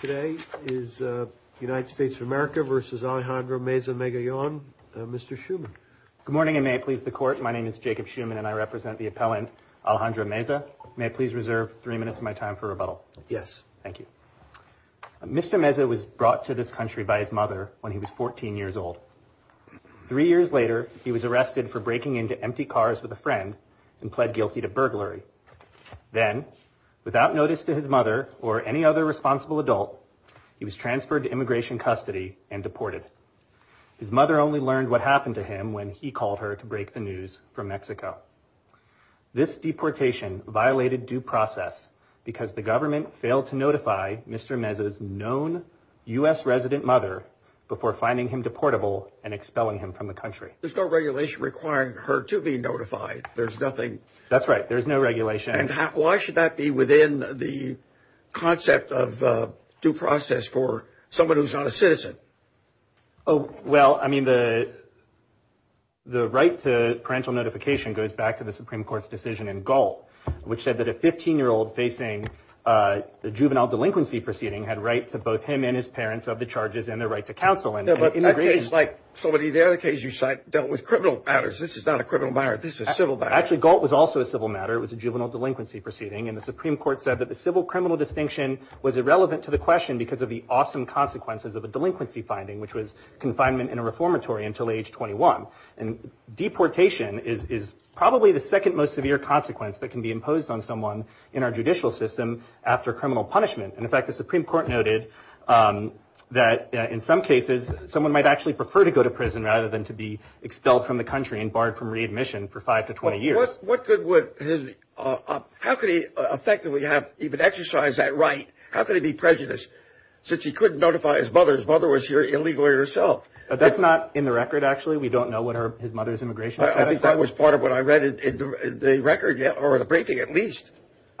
Today is United States of America v. Alejandro Meza-Magallon. Mr. Schuman. Good morning, and may it please the Court. My name is Jacob Schuman, and I represent the appellant Alejandro Meza. May I please reserve three minutes of my time for rebuttal? Yes. Thank you. Mr. Meza was brought to this country by his mother when he was 14 years old. Three years later, he was arrested for breaking into empty cars with a friend and pled guilty to burglary. Then, without notice to his mother or any other responsible adult, he was transferred to immigration custody and deported. His mother only learned what happened to him when he called her to break the news from Mexico. This deportation violated due process because the government failed to notify Mr. Meza's known U.S. resident mother before finding him deportable and expelling him from the country. There's no regulation requiring her to be notified. There's nothing... That's right. There's no regulation. And why should that be within the concept of due process for someone who's not a citizen? Oh, well, I mean, the right to parental notification goes back to the Supreme Court's decision in Galt, which said that a 15-year-old facing a juvenile delinquency proceeding had rights to both him and his parents of the charges and the right to counsel in immigration. No, but that case, like so many of the other cases you cite, dealt with criminal matters. This is not a criminal matter. This is a civil matter. Actually, Galt was also a civil matter. It was a juvenile delinquency proceeding. And the Supreme Court said that the civil criminal distinction was irrelevant to the question because of the awesome consequences of a delinquency finding, which was confinement in a reformatory until age 21. And deportation is probably the second most severe consequence that can be imposed on someone in our judicial system after criminal punishment. And in fact, the Supreme Court noted that in some cases, someone might actually prefer to go to prison rather than to be expelled from the country and barred from readmission for five to 20 years. How could he effectively have even exercised that right? How could he be prejudiced since he couldn't notify his mother? His mother was here illegally herself. That's not in the record, actually. We don't know what his mother's immigration status was. I think that was part of what I read in the record or the briefing, at least.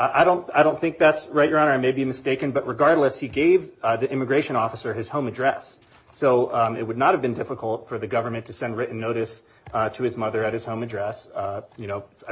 I don't think that's right, Your Honor. I may be mistaken. But regardless, he gave the immigration officer his home address. So it would not have been difficult for the government to send written notice to his mother at his home address. I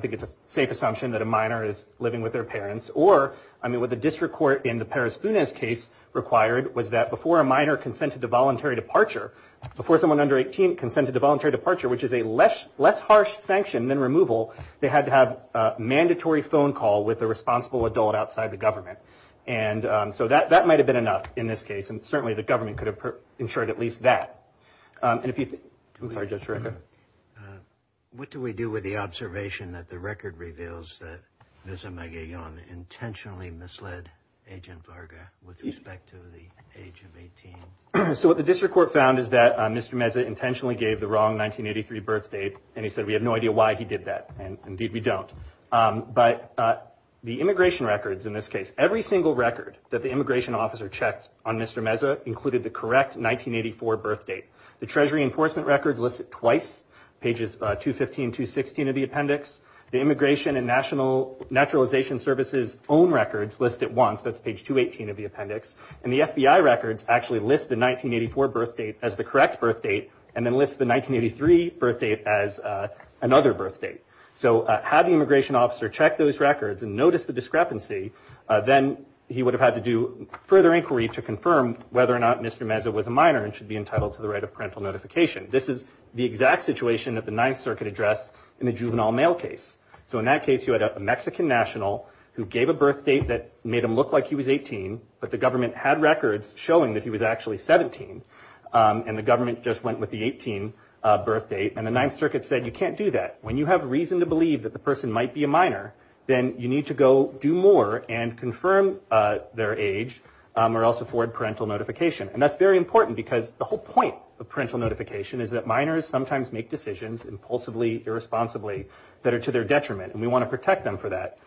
think it's a safe assumption that a minor is living with their parents. Or what the district court in the Perez-Funes case required was that before a minor consented to voluntary departure, before someone under 18 consented to voluntary departure, which is a less harsh sanction than removal, they had to have a mandatory phone call with the responsible adult outside the government. And so that that might have been enough in this case. And certainly the government could have ensured at least that. And if you are just right. What do we do with the observation that the record reveals that there's a mega young intentionally misled Agent Varga with respect to the age of 18? So what the district court found is that Mr. Meza intentionally gave the wrong 1983 birthday. And he said, we have no idea why he did that. And indeed, we don't. But the immigration records in this case, every single record that the immigration officer checked on Mr. Meza included the correct 1984 birthdate. The Treasury enforcement records listed twice, pages 215, 216 of the appendix. The Immigration and National Naturalization Services own records list it once. That's page 218 of the appendix. And the FBI records actually list the 1984 birthdate as the correct birthdate. And then list the 1983 birthdate as another birthdate. So have the immigration officer check those records and notice the discrepancy. Then he would have had to do further inquiry to confirm whether or not Mr. Meza was a minor and should be entitled to the right of parental notification. This is the exact situation that the Ninth Circuit addressed in the juvenile mail case. So in that case, you had a Mexican national who gave a birthdate that made him look like he was 18. But the government had records showing that he was actually 17. And the government just went with the 18 birthdate. And the Ninth Circuit said, you can't do that. When you have reason to believe that the person might be a minor, then you need to go do more and confirm their age or else afford parental notification. And that's very important because the whole point of parental notification is that minors sometimes make decisions impulsively, irresponsibly, that are to their detriment. And we want to protect them for that.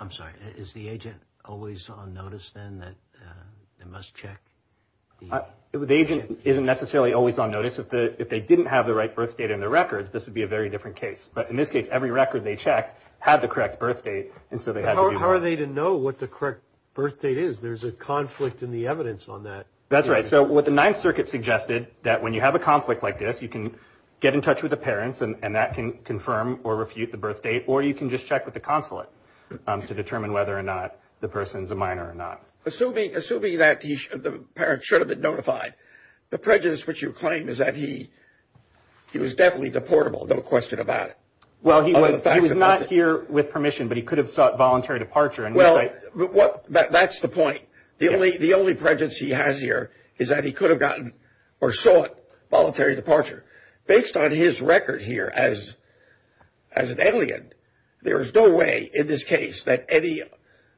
I'm sorry, is the agent always on notice then that they must check? The agent isn't necessarily always on notice. If they didn't have the right birthdate in their records, this would be a very different case. But in this case, every record they checked had the correct birthdate. And so they had to know what the correct birthdate is. There's a conflict in the evidence on that. That's right. So what the Ninth Circuit suggested, that when you have a conflict like this, you can get in touch with the parents and that can confirm or refute the birthdate. Or you can just check with the consulate to determine whether or not the person's a minor or not. Assuming that the parents should have been notified, the prejudice which you claim is that he was definitely deportable, no question about it. He was not here with permission, but he could have sought voluntary departure. That's the point. The only prejudice he has here is that he could have gotten or sought voluntary departure. Based on his record here as an alien, there is no way in this case that any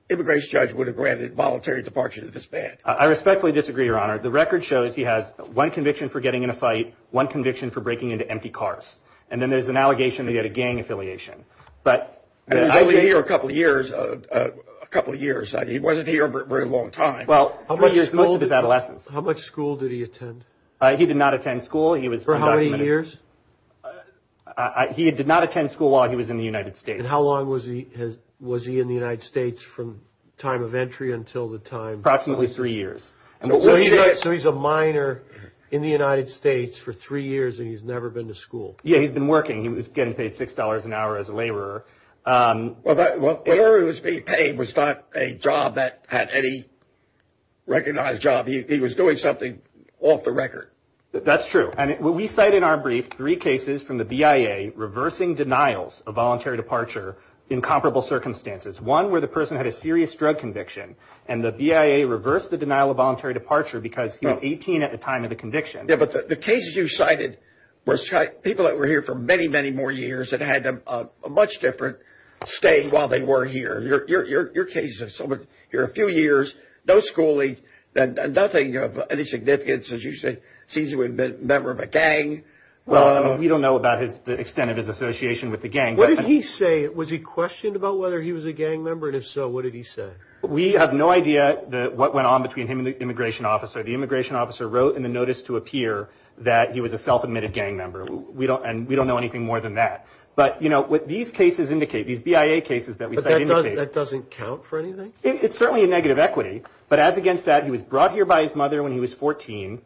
immigration judge would have granted voluntary departure to this man. I respectfully disagree, Your Honor. The record shows he has one conviction for getting in a fight, one conviction for breaking into empty cars. And then there's an allegation that he had a gang affiliation. But I've been here a couple of years. A couple of years. He wasn't here a very long time. Well, how many years? Most of his adolescence. How much school did he attend? He did not attend school. He was for how many years? He did not attend school while he was in the United States. And how long was he? Was he in the United States from time of entry until the time? Approximately three years. And so he's a minor in the United States for three years and he's never been to school. Yeah, he's been working. He was getting paid six dollars an hour as a laborer. Well, what he was being paid was not a job that had any recognized job. And he was doing something off the record. That's true. And we cite in our brief three cases from the BIA reversing denials of voluntary departure in comparable circumstances. One where the person had a serious drug conviction and the BIA reversed the denial of voluntary departure because he was 18 at the time of the conviction. But the cases you cited were people that were here for many, many more years that had a much different state while they were here. Your cases are a few years, no schooling and nothing of any significance. As you say, he's a member of a gang. Well, we don't know about his extent of his association with the gang. What did he say? Was he questioned about whether he was a gang member? And if so, what did he say? We have no idea what went on between him and the immigration officer. The immigration officer wrote in the notice to appear that he was a self-admitted gang member. We don't and we don't know anything more than that. But, you know, what these cases indicate, these BIA cases that we said that doesn't count for anything. It's certainly a negative equity. But as against that, he was brought here by his mother when he was 14. You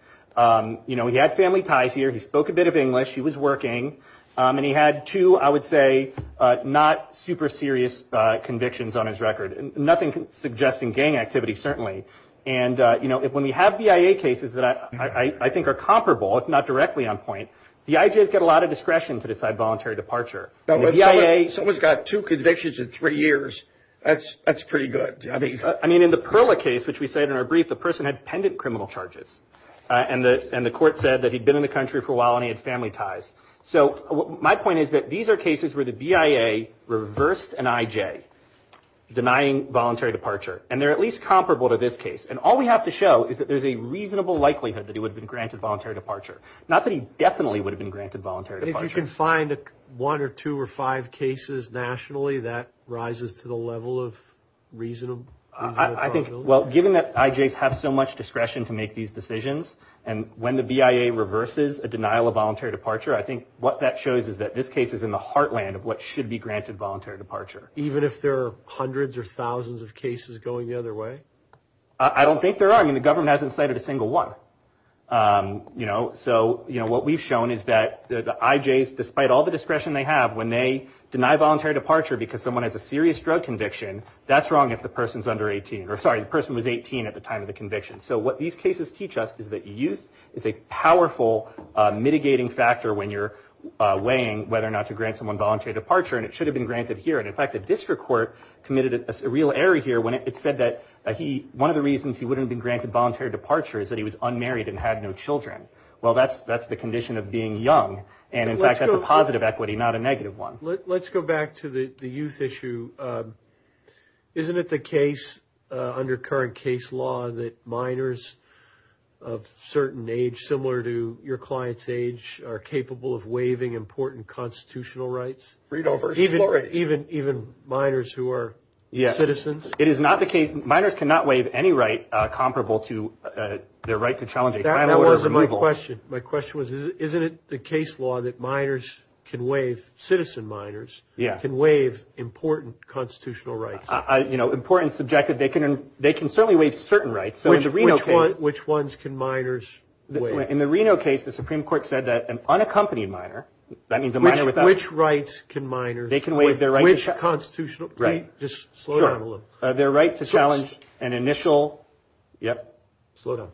know, he had family ties here. He spoke a bit of English. He was working and he had two, I would say, not super serious convictions on his record. Nothing suggesting gang activity, certainly. And, you know, when we have BIA cases that I think are comparable, if not directly on point, the IJs get a lot of discretion to decide voluntary departure. Someone's got two convictions in three years. That's pretty good. I mean, in the Perla case, which we said in our brief, the person had pendant criminal charges. And the court said that he'd been in the country for a while and he had family ties. So my point is that these are cases where the BIA reversed an IJ denying voluntary departure. And they're at least comparable to this case. And all we have to show is that there's a reasonable likelihood that he would have been granted voluntary departure. Not that he definitely would have been granted voluntary departure. But if you can find one or two or five cases nationally, that rises to the level of reasonable probability? Well, given that IJs have so much discretion to make these decisions, and when the BIA reverses a denial of voluntary departure, I think what that shows is that this case is in the heartland of what should be granted voluntary departure. Even if there are hundreds or thousands of cases going the other way? I don't think there are. I mean, the government hasn't cited a single one. So what we've shown is that the IJs, despite all the discretion they have, when they deny voluntary departure because someone has a serious drug conviction, that's wrong if the person's under 18. Or sorry, the person was 18 at the time of the conviction. So what these cases teach us is that youth is a powerful mitigating factor when you're weighing whether or not to grant someone voluntary departure. And it should have been granted here. And in fact, the district court committed a real error here when it said that one of the reasons he wouldn't have been granted voluntary departure is that he was unmarried and had no children. Well, that's the condition of being young. And in fact, that's a positive equity, not a negative one. Let's go back to the youth issue. Isn't it the case under current case law that minors of certain age, similar to your client's age, are capable of waiving important constitutional rights? Even minors who are citizens? It is not the case. Minors cannot waive any right comparable to their right to challenge a claim or removal. That wasn't my question. My question was, isn't it the case law that minors can waive, citizen minors, can waive important constitutional rights? You know, important, subjective. They can certainly waive certain rights. Which ones can minors waive? In the Reno case, the Supreme Court said that an unaccompanied minor, that means a minor without. Which rights can minors waive? Which constitutional rights? Just slow down a little. Their right to challenge an initial. Yep. Slow down.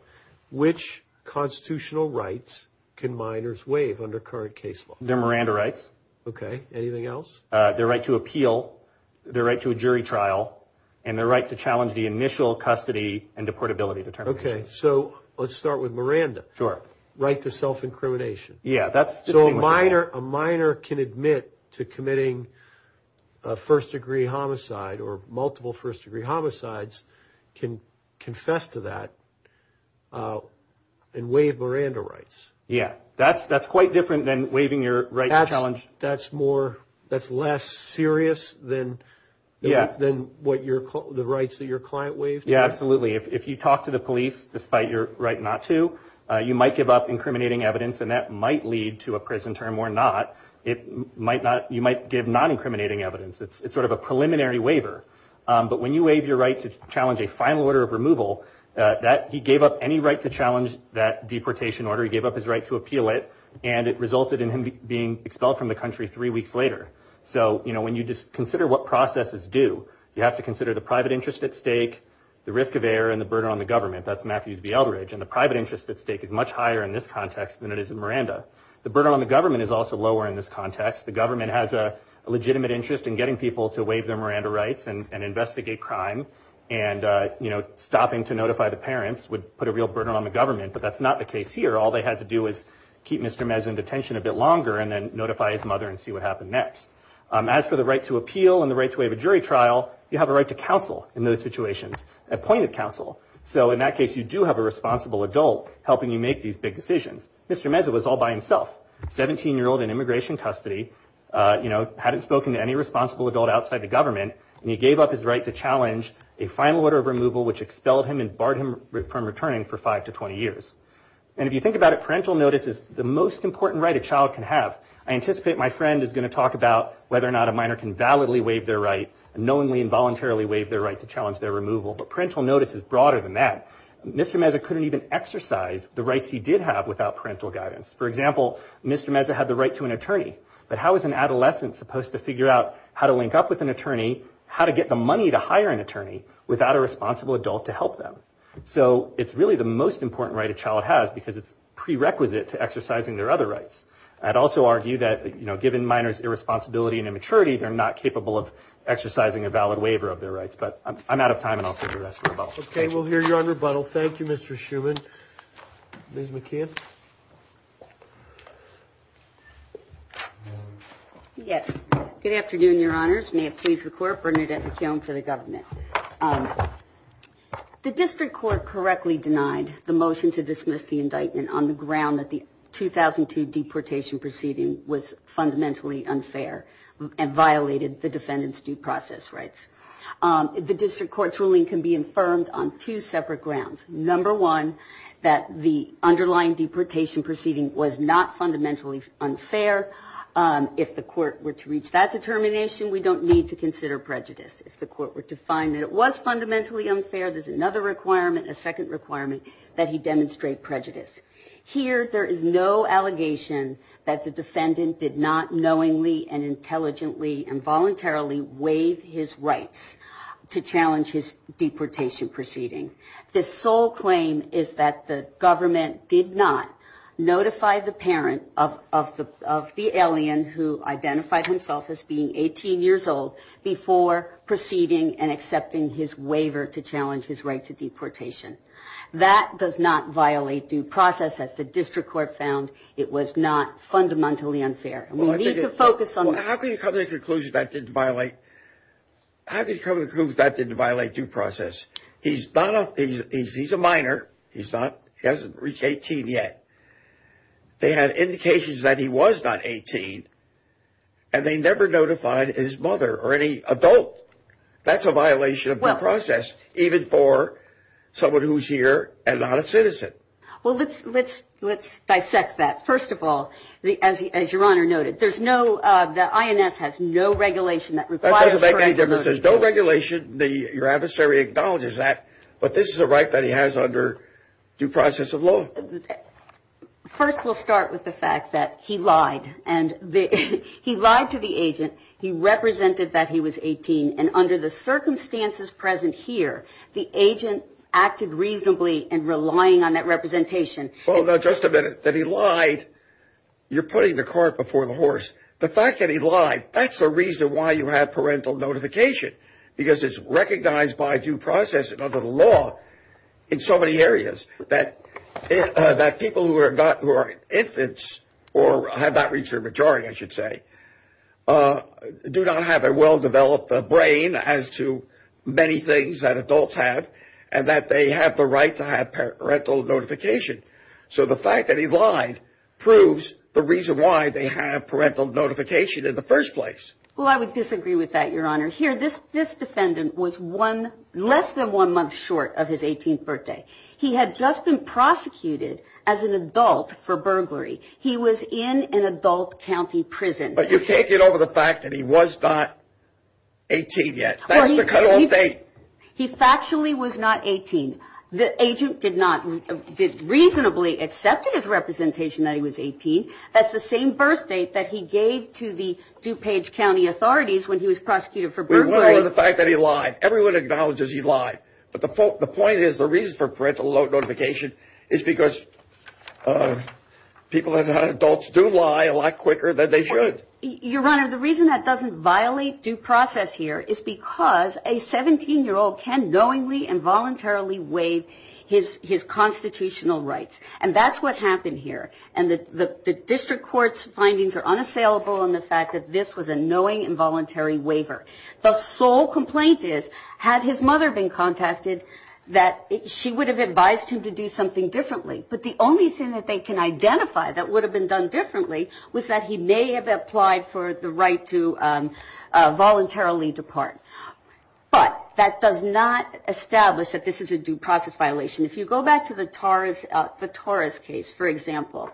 Which constitutional rights can minors waive under current case law? Their Miranda rights. Okay. Anything else? Their right to appeal, their right to a jury trial, and their right to challenge the initial custody and deportability determination. Okay. So let's start with Miranda. Sure. Right to self-incrimination. Yeah. So a minor can admit to committing a first-degree homicide or multiple first-degree homicides, can confess to that, and waive Miranda rights. Yeah. That's quite different than waiving your right to challenge. That's more, that's less serious than the rights that your client waived? Yeah, absolutely. If you talk to the police despite your right not to, you might give up incriminating evidence, and that might lead to a prison term or not. You might give non-incriminating evidence. It's sort of a preliminary waiver. But when you waive your right to challenge a final order of removal, he gave up any right to challenge that deportation order. He gave up his right to appeal it, and it resulted in him being expelled from the country three weeks later. So when you just consider what processes do, you have to consider the private interest at stake, the risk of error, and the burden on the government. That's Matthews v. Eldridge. And the private interest at stake is much higher in this context than it is in Miranda. The burden on the government is also lower in this context. The government has a legitimate interest in getting people to waive their Miranda rights and investigate crime, and stopping to notify the parents would put a real burden on the government. But that's not the case here. All they had to do was keep Mr. Mez in detention a bit longer and then notify his mother and see what happened next. As for the right to appeal and the right to waive a jury trial, you have a right to counsel in those situations, appointed counsel. So in that case, you do have a responsible adult helping you make these big decisions. Mr. Mez was all by himself, 17-year-old in immigration custody, hadn't spoken to any responsible adult outside the government, and he gave up his right to challenge a final order of removal which expelled him and barred him from returning for five to 20 years. And if you think about it, parental notice is the most important right a child can have. I anticipate my friend is going to talk about whether or not a minor can validly waive their right, knowingly and voluntarily waive their right to challenge their removal, but parental notice is broader than that. Mr. Mez couldn't even exercise the rights he did have without parental guidance. For example, Mr. Mez had the right to an attorney, but how is an adolescent supposed to figure out how to link up with an attorney, how to get the money to hire an attorney without a responsible adult to help them? So it's really the most important right a child has because it's prerequisite to exercising their other rights. I'd also argue that, you know, given minors' irresponsibility and immaturity, they're not capable of exercising a valid waiver of their rights. But I'm out of time, and I'll save the rest for rebuttal. Okay, we'll hear you on rebuttal. Thank you, Mr. Schuman. Ms. McKeon? Yes. Good afternoon, Your Honors. May it please the Court, Bernadette McKeon for the government. The district court correctly denied the motion to dismiss the indictment on the ground that the 2002 deportation proceeding was fundamentally unfair and violated the defendant's due process rights. The district court's ruling can be affirmed on two separate grounds. Number one, that the underlying deportation proceeding was not fundamentally unfair. If the court were to reach that determination, we don't need to consider prejudice. If the court were to find that it was fundamentally unfair, there's another requirement, a second requirement, that he demonstrate prejudice. Here, there is no allegation that the defendant did not knowingly and intelligently and voluntarily waive his rights to challenge his deportation proceeding. The sole claim is that the government did not notify the parent of the alien who identified himself as being 18 years old before proceeding and accepting his waiver to challenge his right to deportation. That does not violate due process. As the district court found, it was not fundamentally unfair. We need to focus on that. How can you come to the conclusion that didn't violate due process? He's a minor. He hasn't reached 18 yet. They had indications that he was not 18, and they never notified his mother or any adult. That's a violation of due process, even for someone who's here and not a citizen. Well, let's dissect that. First of all, as Your Honor noted, there's no, the INS has no regulation that requires That doesn't make any difference. There's no regulation. Your adversary acknowledges that, but this is a right that he has under due process of law. First, we'll start with the fact that he lied, and he lied to the agent. He represented that he was 18, and under the circumstances present here, the agent acted reasonably in relying on that representation. Well, now, just a minute. That he lied, you're putting the cart before the horse. The fact that he lied, that's the reason why you have parental notification, because it's recognized by due process and under the law in so many areas that people who are infants or have not reached their majority, I should say, do not have a well-developed brain as to many things that adults have and that they have the right to have parental notification. So the fact that he lied proves the reason why they have parental notification in the first place. Well, I would disagree with that, Your Honor. Here, this defendant was less than one month short of his 18th birthday. He had just been prosecuted as an adult for burglary. He was in an adult county prison. But you can't get over the fact that he was not 18 yet. That's the cutoff date. He factually was not 18. The agent did not reasonably accept his representation that he was 18. That's the same birthdate that he gave to the DuPage County authorities when he was prosecuted for burglary. We want to go to the fact that he lied. Everyone acknowledges he lied. But the point is the reason for parental notification is because people and adults do lie a lot quicker than they should. Your Honor, the reason that doesn't violate due process here is because a 17-year-old can knowingly and voluntarily waive his constitutional rights. And that's what happened here. And the district court's findings are unassailable on the fact that this was a knowing involuntary waiver. The sole complaint is had his mother been contacted that she would have advised him to do something differently. But the only thing that they can identify that would have been done differently was that he may have applied for the right to voluntarily depart. But that does not establish that this is a due process violation. If you go back to the Torres case, for example,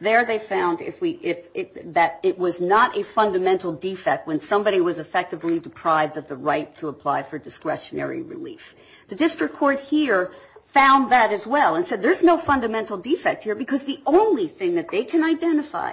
there they found that it was not a fundamental defect when somebody was effectively deprived of the right to apply for discretionary relief. The district court here found that as well and said there's no fundamental defect here because the only thing that they can identify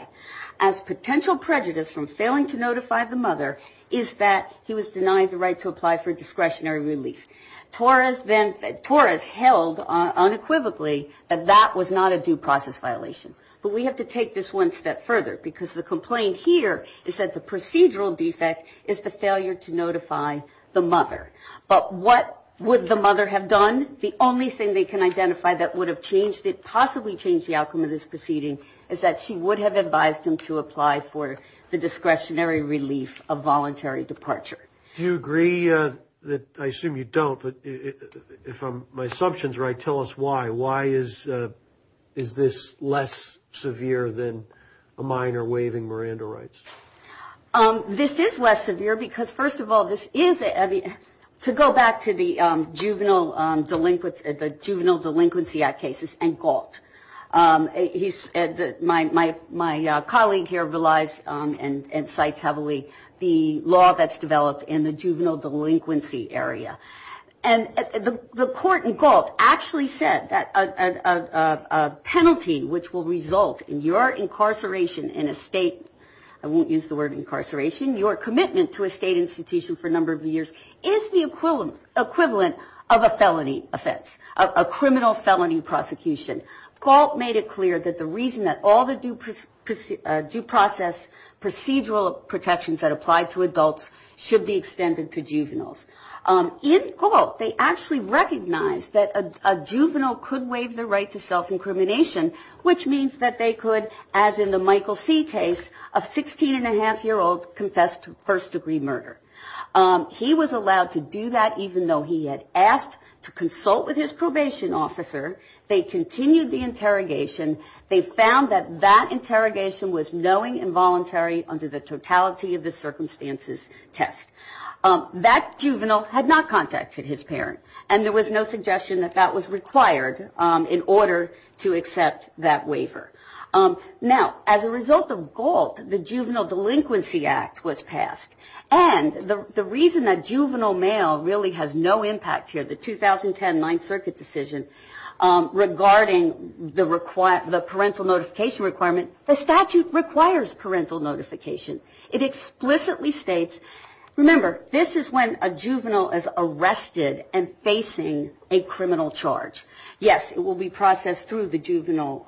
as potential prejudice from failing to notify the mother is that he was denied the right to apply for discretionary relief. Torres held unequivocally that that was not a due process violation. But we have to take this one step further because the complaint here is that the procedural defect is the failure to notify the mother. But what would the mother have done? The only thing they can identify that would have possibly changed the outcome of this proceeding is that she would have advised him to apply for the discretionary relief of voluntary departure. Do you agree that, I assume you don't, but if my assumptions are right, tell us why. Why is this less severe than a minor waiving Miranda rights? This is less severe because, first of all, this is, to go back to the Juvenile Delinquency Act cases and Gault, my colleague here relies and cites heavily the law that's developed in the juvenile delinquency area. And the court in Gault actually said that a penalty which will result in your incarceration in a state, I won't use the word incarceration, your commitment to a state institution for a number of years is the equivalent of a felony offense, a criminal felony prosecution. Gault made it clear that the reason that all the due process procedural protections that apply to adults should be extended to juveniles. In Gault, they actually recognized that a juvenile could waive the right to self-incrimination, which means that they could, as in the Michael C. case, a 16-and-a-half-year-old confess to first-degree murder. He was allowed to do that even though he had asked to consult with his probation officer. They continued the interrogation. They found that that interrogation was knowing involuntary under the totality of the circumstances test. That juvenile had not contacted his parent, and there was no suggestion that that was required in order to accept that waiver. Now, as a result of Gault, the Juvenile Delinquency Act was passed. And the reason that juvenile mail really has no impact here, the 2010 Ninth Circuit decision, regarding the parental notification requirement, the statute requires parental notification. It explicitly states, remember, this is when a juvenile is arrested and facing a criminal charge. Yes, it will be processed through the juvenile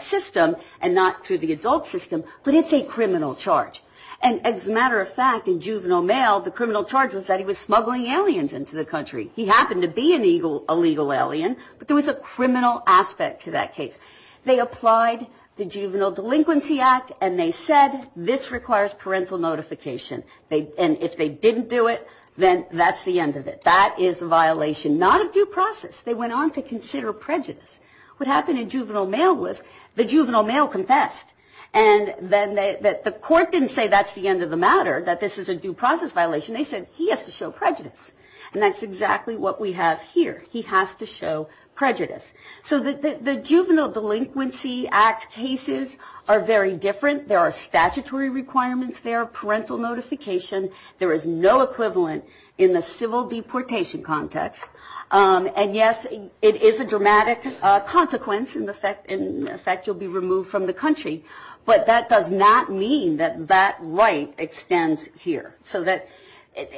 system and not through the adult system, but it's a criminal charge. And as a matter of fact, in juvenile mail, the criminal charge was that he was smuggling aliens into the country. He happened to be an illegal alien, but there was a criminal aspect to that case. They applied the Juvenile Delinquency Act, and they said this requires parental notification. And if they didn't do it, then that's the end of it. That is a violation not of due process. They went on to consider prejudice. What happened in juvenile mail was the juvenile mail confessed. And the court didn't say that's the end of the matter, that this is a due process violation. They said he has to show prejudice, and that's exactly what we have here. He has to show prejudice. So the Juvenile Delinquency Act cases are very different. There are statutory requirements there, parental notification. There is no equivalent in the civil deportation context. And yes, it is a dramatic consequence. In effect, you'll be removed from the country, but that does not mean that that right extends here. So that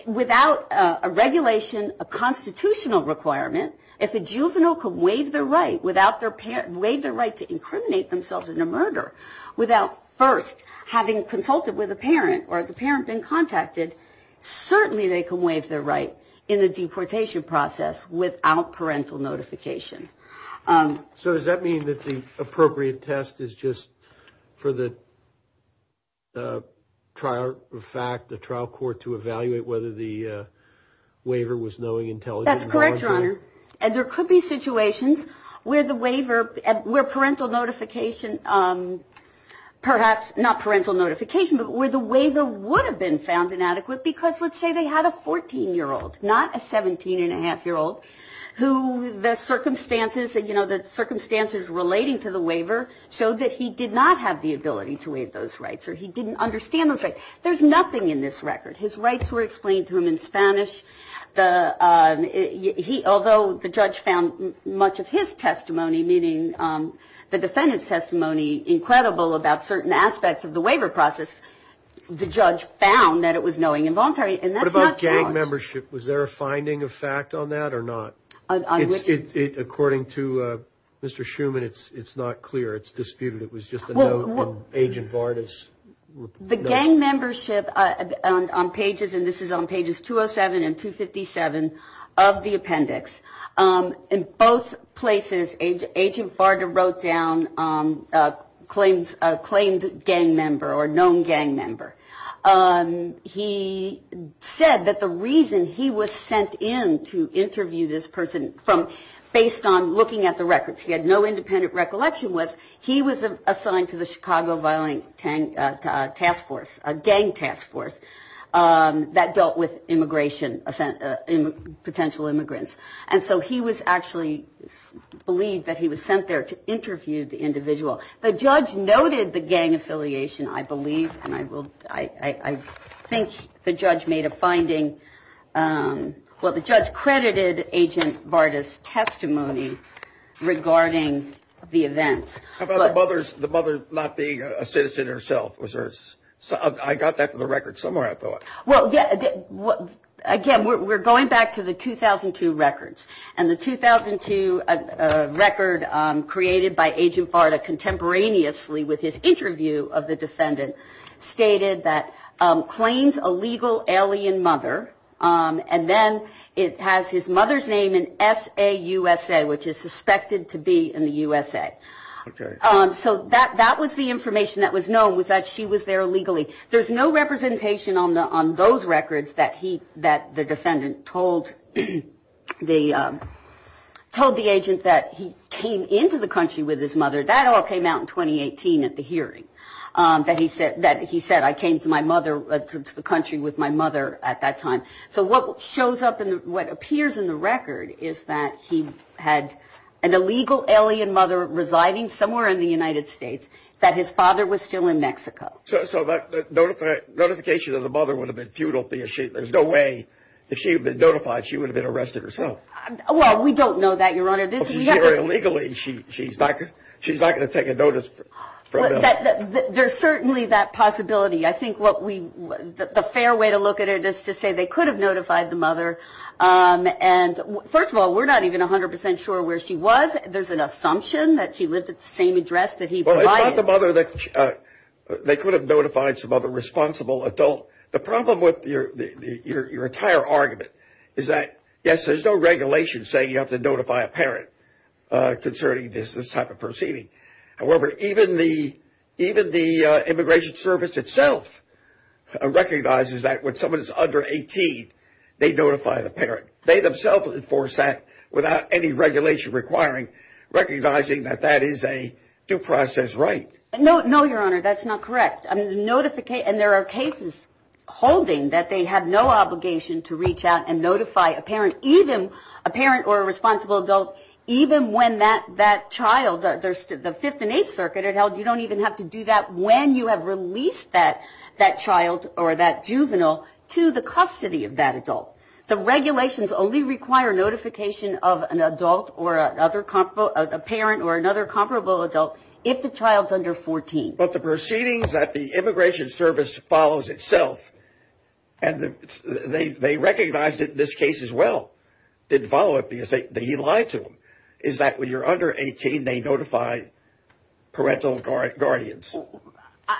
without a regulation, a constitutional requirement, if a juvenile can waive their right, waive their right to incriminate themselves in a murder without first having consulted with a parent, or the parent being contacted, certainly they can waive their right in the deportation process without parental notification. So does that mean that the appropriate test is just for the trial fact, the trial court, to evaluate whether the waiver was knowing intelligence? That's correct, Your Honor. And there could be situations where the waiver, where parental notification, perhaps not parental notification, but where the waiver would have been found inadequate because let's say they had a 14-year-old, not a 17-and-a-half-year-old, who the circumstances, you know, the circumstances relating to the waiver showed that he did not have the ability to waive those rights, or he didn't understand those rights. There's nothing in this record. His rights were explained to him in Spanish. Although the judge found much of his testimony, meaning the defendant's testimony, incredible about certain aspects of the waiver process, the judge found that it was knowing and voluntary, and that's not charged. What about gang membership? Was there a finding of fact on that or not? According to Mr. Schuman, it's not clear. It's disputed. It was just a note from Agent Bardis. The gang membership on pages, and this is on pages 207 and 257 of the appendix, in both places Agent Bardis wrote down claimed gang member or known gang member. He said that the reason he was sent in to interview this person based on looking at the records, he had no independent recollection, was he was assigned to the Chicago Violent Task Force, a gang task force that dealt with immigration, potential immigrants. And so he was actually believed that he was sent there to interview the individual. The judge noted the gang affiliation, I believe, and I think the judge made a finding. Well, the judge credited Agent Bardis' testimony regarding the events. How about the mother not being a citizen herself? I got that from the record somewhere, I thought. Well, again, we're going back to the 2002 records. And the 2002 record created by Agent Bardis contemporaneously with his interview of the defendant stated that he claims a legal alien mother, and then it has his mother's name in SAUSA, which is suspected to be in the USA. So that was the information that was known, was that she was there illegally. There's no representation on those records that the defendant told the agent that he came into the country with his mother. That all came out in 2018 at the hearing that he said that he said, I came to my mother to the country with my mother at that time. So what shows up and what appears in the record is that he had an illegal alien mother residing somewhere in the United States, that his father was still in Mexico. So that notification of the mother would have been futile. There's no way if she had been notified, she would have been arrested herself. Well, we don't know that, Your Honor. She's not going to take a notice. There's certainly that possibility. I think the fair way to look at it is to say they could have notified the mother. And first of all, we're not even 100% sure where she was. There's an assumption that she lived at the same address that he provided. They could have notified some other responsible adult. The problem with your entire argument is that, yes, there's no regulation saying you have to notify a parent concerning this type of proceeding. However, even the Immigration Service itself recognizes that when someone is under 18, they notify the parent. They themselves enforce that without any regulation requiring recognizing that that is a due process right. No, Your Honor, that's not correct. And there are cases holding that they have no obligation to reach out and notify a parent, even a parent or a responsible adult, even when that child, the Fifth and Eighth Circuit had held you don't even have to do that when you have released that child or that juvenile to the custody of that adult. The regulations only require notification of an adult or a parent or another comparable adult if the child's under 14. But the proceedings that the Immigration Service follows itself, and they recognized it in this case as well, didn't follow it because they lied to them, is that when you're under 18, they notify parental guardians.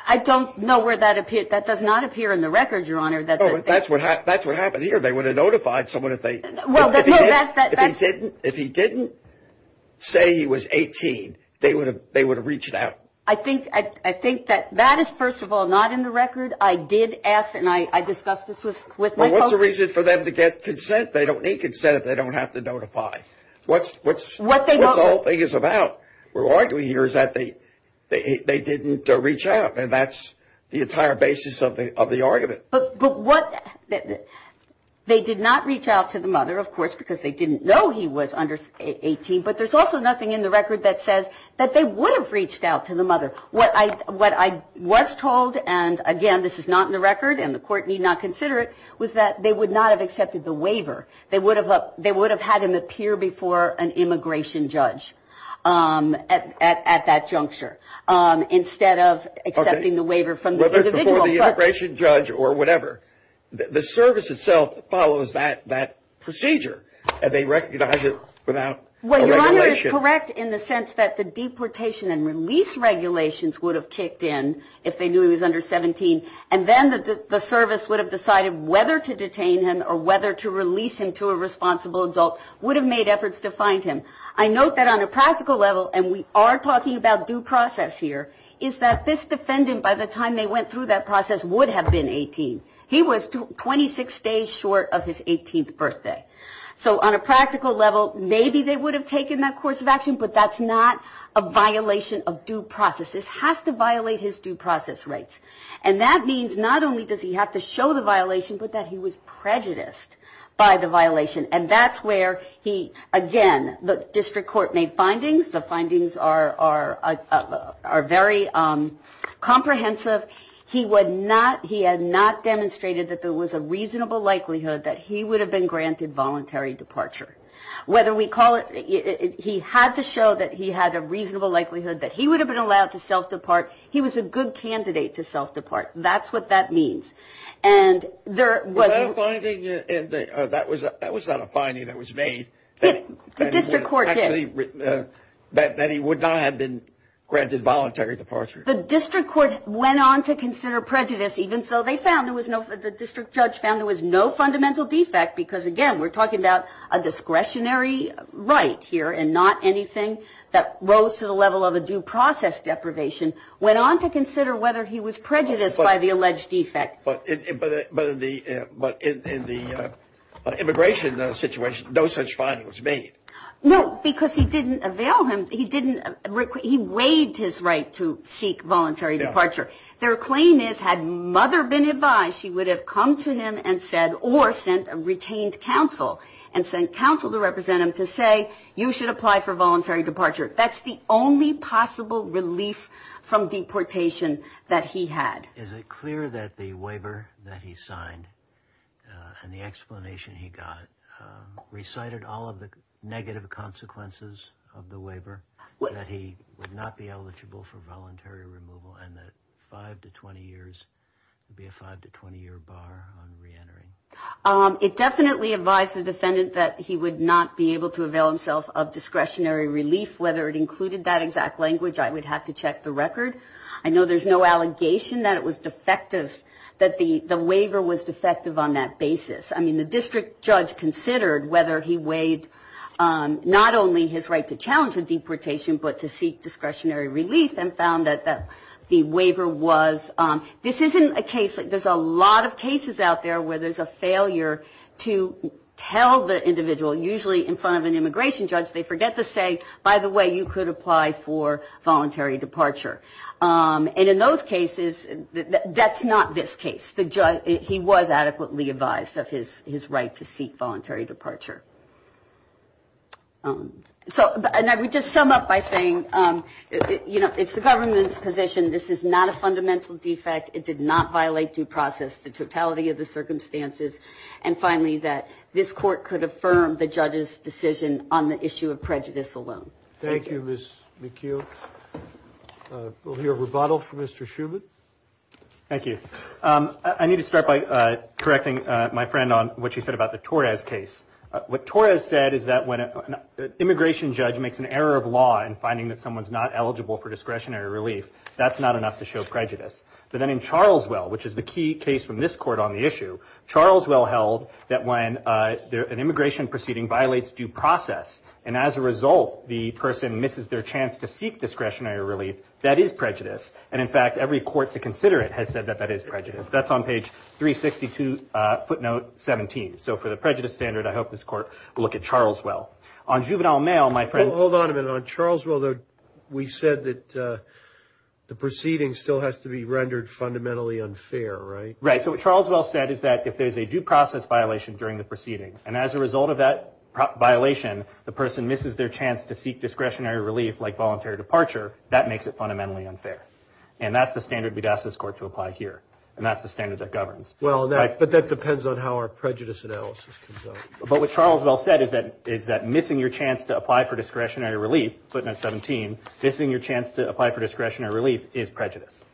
I don't know where that appeared. That does not appear in the record, Your Honor. That's what happened here. They would have notified someone if he didn't say he was 18. They would have reached out. I think that that is, first of all, not in the record. I did ask and I discussed this with my folks. Well, what's the reason for them to get consent? They don't need consent if they don't have to notify. What's the whole thing is about? We're arguing here is that they didn't reach out, and that's the entire basis of the argument. But what they did not reach out to the mother, of course, because they didn't know he was under 18, but there's also nothing in the record that says that they would have reached out to the mother. What I was told, and again, this is not in the record and the Court need not consider it, was that they would not have accepted the waiver. They would have had him appear before an immigration judge at that juncture, instead of accepting the waiver from the individual first. Whether it's before the immigration judge or whatever. The service itself follows that procedure, and they recognize it without a regulation. It's correct in the sense that the deportation and release regulations would have kicked in if they knew he was under 17, and then the service would have decided whether to detain him or whether to release him to a responsible adult would have made efforts to find him. I note that on a practical level, and we are talking about due process here, is that this defendant, by the time they went through that process, would have been 18. He was 26 days short of his 18th birthday. So on a practical level, maybe they would have taken that course of action, but that's not a violation of due process. This has to violate his due process rights, and that means not only does he have to show the violation, but that he was prejudiced by the violation. And that's where he, again, the district court made findings. The findings are very comprehensive. He had not demonstrated that there was a reasonable likelihood that he would have been granted voluntary departure. He had to show that he had a reasonable likelihood that he would have been allowed to self-depart. He was a good candidate to self-depart. That's what that means. That was not a finding that was made. That he would not have been granted voluntary departure. The district judge found there was no fundamental defect because, again, we're talking about a discretionary right here and not anything that rose to the level of a due process deprivation. Went on to consider whether he was prejudiced by the alleged defect. But in the immigration situation, no such finding was made. No, because he didn't avail him. He weighed his right to seek voluntary departure. Their claim is, had mother been advised, she would have come to him and said, or sent a retained counsel and sent counsel to represent him to say, you should apply for voluntary departure. That's the only possible relief from deportation that he had. Is it clear that the waiver that he signed and the explanation he got recited all of the negative consequences of the waiver? That he would not be eligible for voluntary removal and that five to 20 years would be a five to 20 year bar on reentering. It definitely advised the defendant that he would not be able to avail himself of discretionary relief. Whether it included that exact language, I would have to check the record. I know there's no allegation that it was defective that the waiver was defective on that basis. I mean, the district judge considered whether he weighed not only his right to challenge the deportation, but to seek discretionary relief and found that the waiver was, this isn't a case, there's a lot of cases out there where there's a failure to tell the individual, usually in front of an immigration judge, they forget to say, by the way, you could apply for voluntary departure. And in those cases, that's not this case. He was adequately advised of his right to seek voluntary departure. And I would just sum up by saying, you know, it's the government's position, this is not a fundamental defect, it did not violate due process, the totality of the circumstances. And finally, that this court could affirm the judge's decision on the issue of prejudice alone. Thank you, Ms. McHugh. We'll hear a rebuttal from Mr. Schubert. Thank you. I need to start by correcting my friend on what she said about the Torres case. What Torres said is that when an immigration judge makes an error of law in finding that someone's not eligible for discretionary relief, that's not enough to show prejudice. But then in Charleswell, which is the key case from this court on the issue, Charleswell held that when an immigration proceeding violates due process, and as a result, the person misses their chance to seek discretionary relief, that is prejudice. And in fact, every court to consider it has said that that is prejudice. That's on page 362, footnote 17. So for the prejudice standard, I hope this court will look at Charleswell. Hold on a minute. On Charleswell, we said that the proceeding still has to be rendered fundamentally unfair, right? Right. So what Charleswell said is that if there's a due process violation during the proceeding, and as a result of that violation, the person misses their chance to seek discretionary relief like voluntary departure, that makes it fundamentally unfair. And that's the standard we'd ask this court to apply here, and that's the standard that governs. But that depends on how our prejudice analysis comes out. But what Charleswell said is that missing your chance to apply for discretionary relief, footnote 17, missing your chance to apply for discretionary relief is prejudice.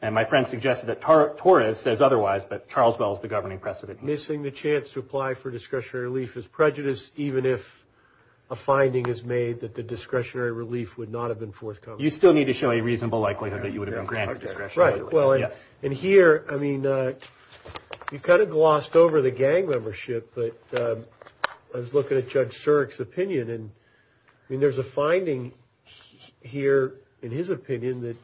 And my friend suggested that Torres says otherwise, but Charleswell is the governing precedent. Missing the chance to apply for discretionary relief is prejudice, even if a finding is made that the discretionary relief would not have been forthcoming. So you still need to show a reasonable likelihood that you would have been granted discretionary relief. Right. Well, and here, I mean, you kind of glossed over the gang membership, but I was looking at Judge Surik's opinion, and I mean, there's a finding here, in his opinion, that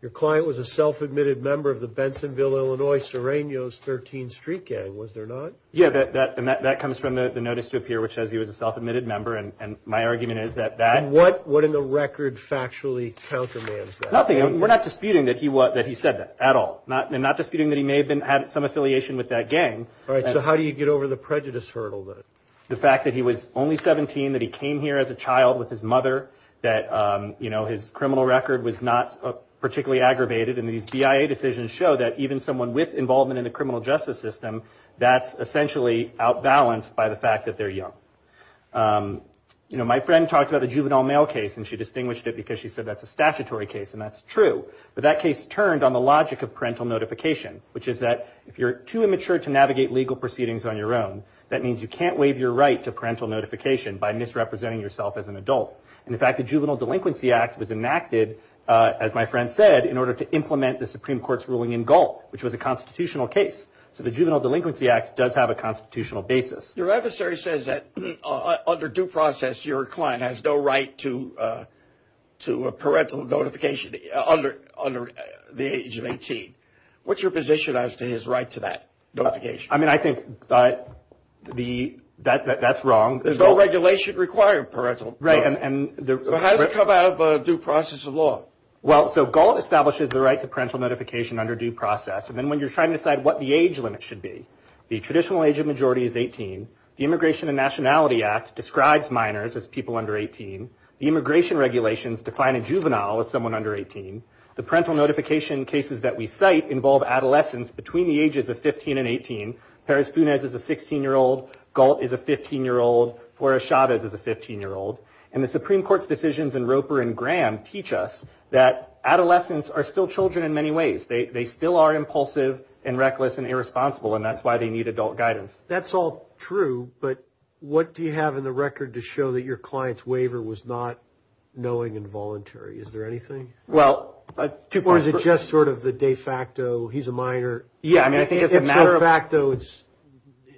your client was a self-admitted member of the Bensonville, Illinois, Serrano's 13th Street Gang. Was there not? Yeah, and that comes from the notice to appear, which says he was a self-admitted member, and my argument is that that. And what in the record factually countermands that? Nothing. We're not disputing that he said that at all. I'm not disputing that he may have had some affiliation with that gang. All right. So how do you get over the prejudice hurdle, then? The fact that he was only 17, that he came here as a child with his mother, that his criminal record was not particularly aggravated, and these BIA decisions show that even someone with involvement in the criminal justice system, that's essentially outbalanced by the fact that they're young. You know, my friend talked about the juvenile mail case, and she distinguished it because she said that's a statutory case, and that's true. But that case turned on the logic of parental notification, which is that if you're too immature to navigate legal proceedings on your own, that means you can't waive your right to parental notification by misrepresenting yourself as an adult. And in fact, the Juvenile Delinquency Act was enacted, as my friend said, in order to implement the Supreme Court's ruling in Galt, which was a constitutional case. So the Juvenile Delinquency Act does have a constitutional basis. Your adversary says that under due process, your client has no right to parental notification under the age of 18. What's your position as to his right to that notification? I mean, I think that's wrong. There's no regulation requiring parental. Right. So how does it come out of due process of law? Well, so Galt establishes the right to parental notification under due process. And then when you're trying to decide what the age limit should be, the traditional age of majority is 18. The Immigration and Nationality Act describes minors as people under 18. The immigration regulations define a juvenile as someone under 18. The parental notification cases that we cite involve adolescents between the ages of 15 and 18. Perez-Funes is a 16-year-old. Galt is a 15-year-old. Flores-Chavez is a 15-year-old. And the Supreme Court's decisions in Roper and Graham teach us that adolescents are still children in many ways. They still are impulsive and reckless and irresponsible. And that's why they need adult guidance. That's all true. But what do you have in the record to show that your client's waiver was not knowing and voluntary? Is there anything? Well, two points. Or is it just sort of the de facto, he's a minor? Yeah, I mean, I think as a matter of fact, though, it's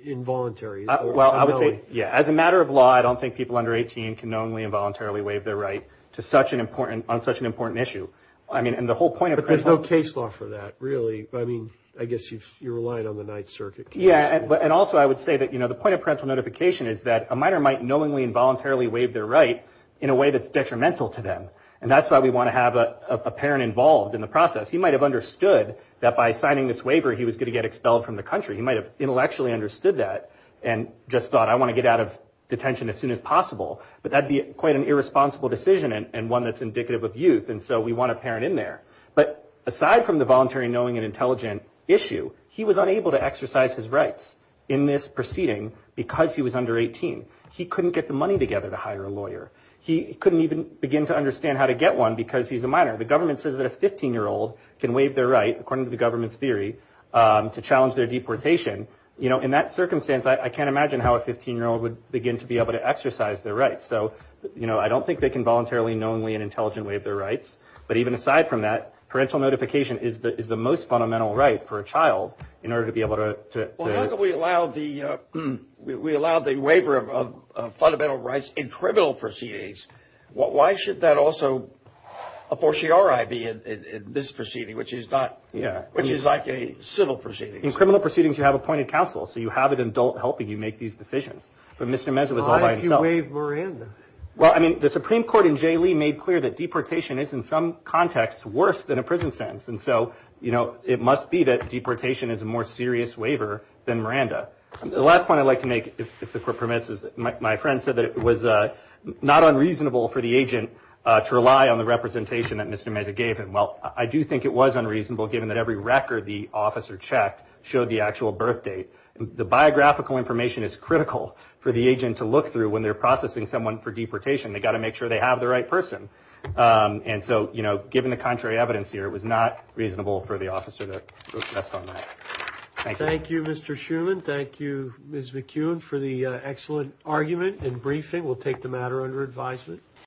involuntary. Well, I would say, yeah. As a matter of law, I don't think people under 18 can knowingly and voluntarily waive their right on such an important issue. But there's no case law for that, really. I mean, I guess you're relying on the Ninth Circuit case law. Yeah, and also I would say that the point of parental notification is that a minor might knowingly and voluntarily waive their right in a way that's detrimental to them. And that's why we want to have a parent involved in the process. He might have understood that by signing this waiver he was going to get expelled from the country. He might have intellectually understood that and just thought, I want to get out of detention as soon as possible. But that would be quite an irresponsible decision and one that's indicative of youth. And so we want a parent in there. But aside from the voluntary knowing and intelligent issue, he was unable to exercise his rights in this proceeding because he was under 18. He couldn't get the money together to hire a lawyer. He couldn't even begin to understand how to get one because he's a minor. The government says that a 15-year-old can waive their right, according to the government's theory, to challenge their deportation. In that circumstance, I can't imagine how a 15-year-old would begin to be able to exercise their rights. So, you know, I don't think they can voluntarily, knowingly, and intelligently waive their rights. But even aside from that, parental notification is the most fundamental right for a child in order to be able to. Well, how can we allow the waiver of fundamental rights in criminal proceedings? Why should that also a fortiori be in this proceeding, which is like a civil proceeding? In criminal proceedings, you have appointed counsel. So you have an adult helping you make these decisions. But Mr. Meza was all by himself. Why did you waive Miranda? Well, I mean, the Supreme Court in J. Lee made clear that deportation is, in some contexts, worse than a prison sentence. And so, you know, it must be that deportation is a more serious waiver than Miranda. The last point I'd like to make, if the Court permits, is that my friend said that it was not unreasonable for the agent to rely on the representation that Mr. Meza gave him. Well, I do think it was unreasonable, given that every record the officer checked showed the actual birth date. The biographical information is critical for the agent to look through when they're processing someone for deportation. They've got to make sure they have the right person. And so, you know, given the contrary evidence here, it was not reasonable for the officer to adjust on that. Thank you. Thank you, Mr. Shuman. Thank you, Ms. McKeown, for the excellent argument and briefing. We'll take the matter under advisement.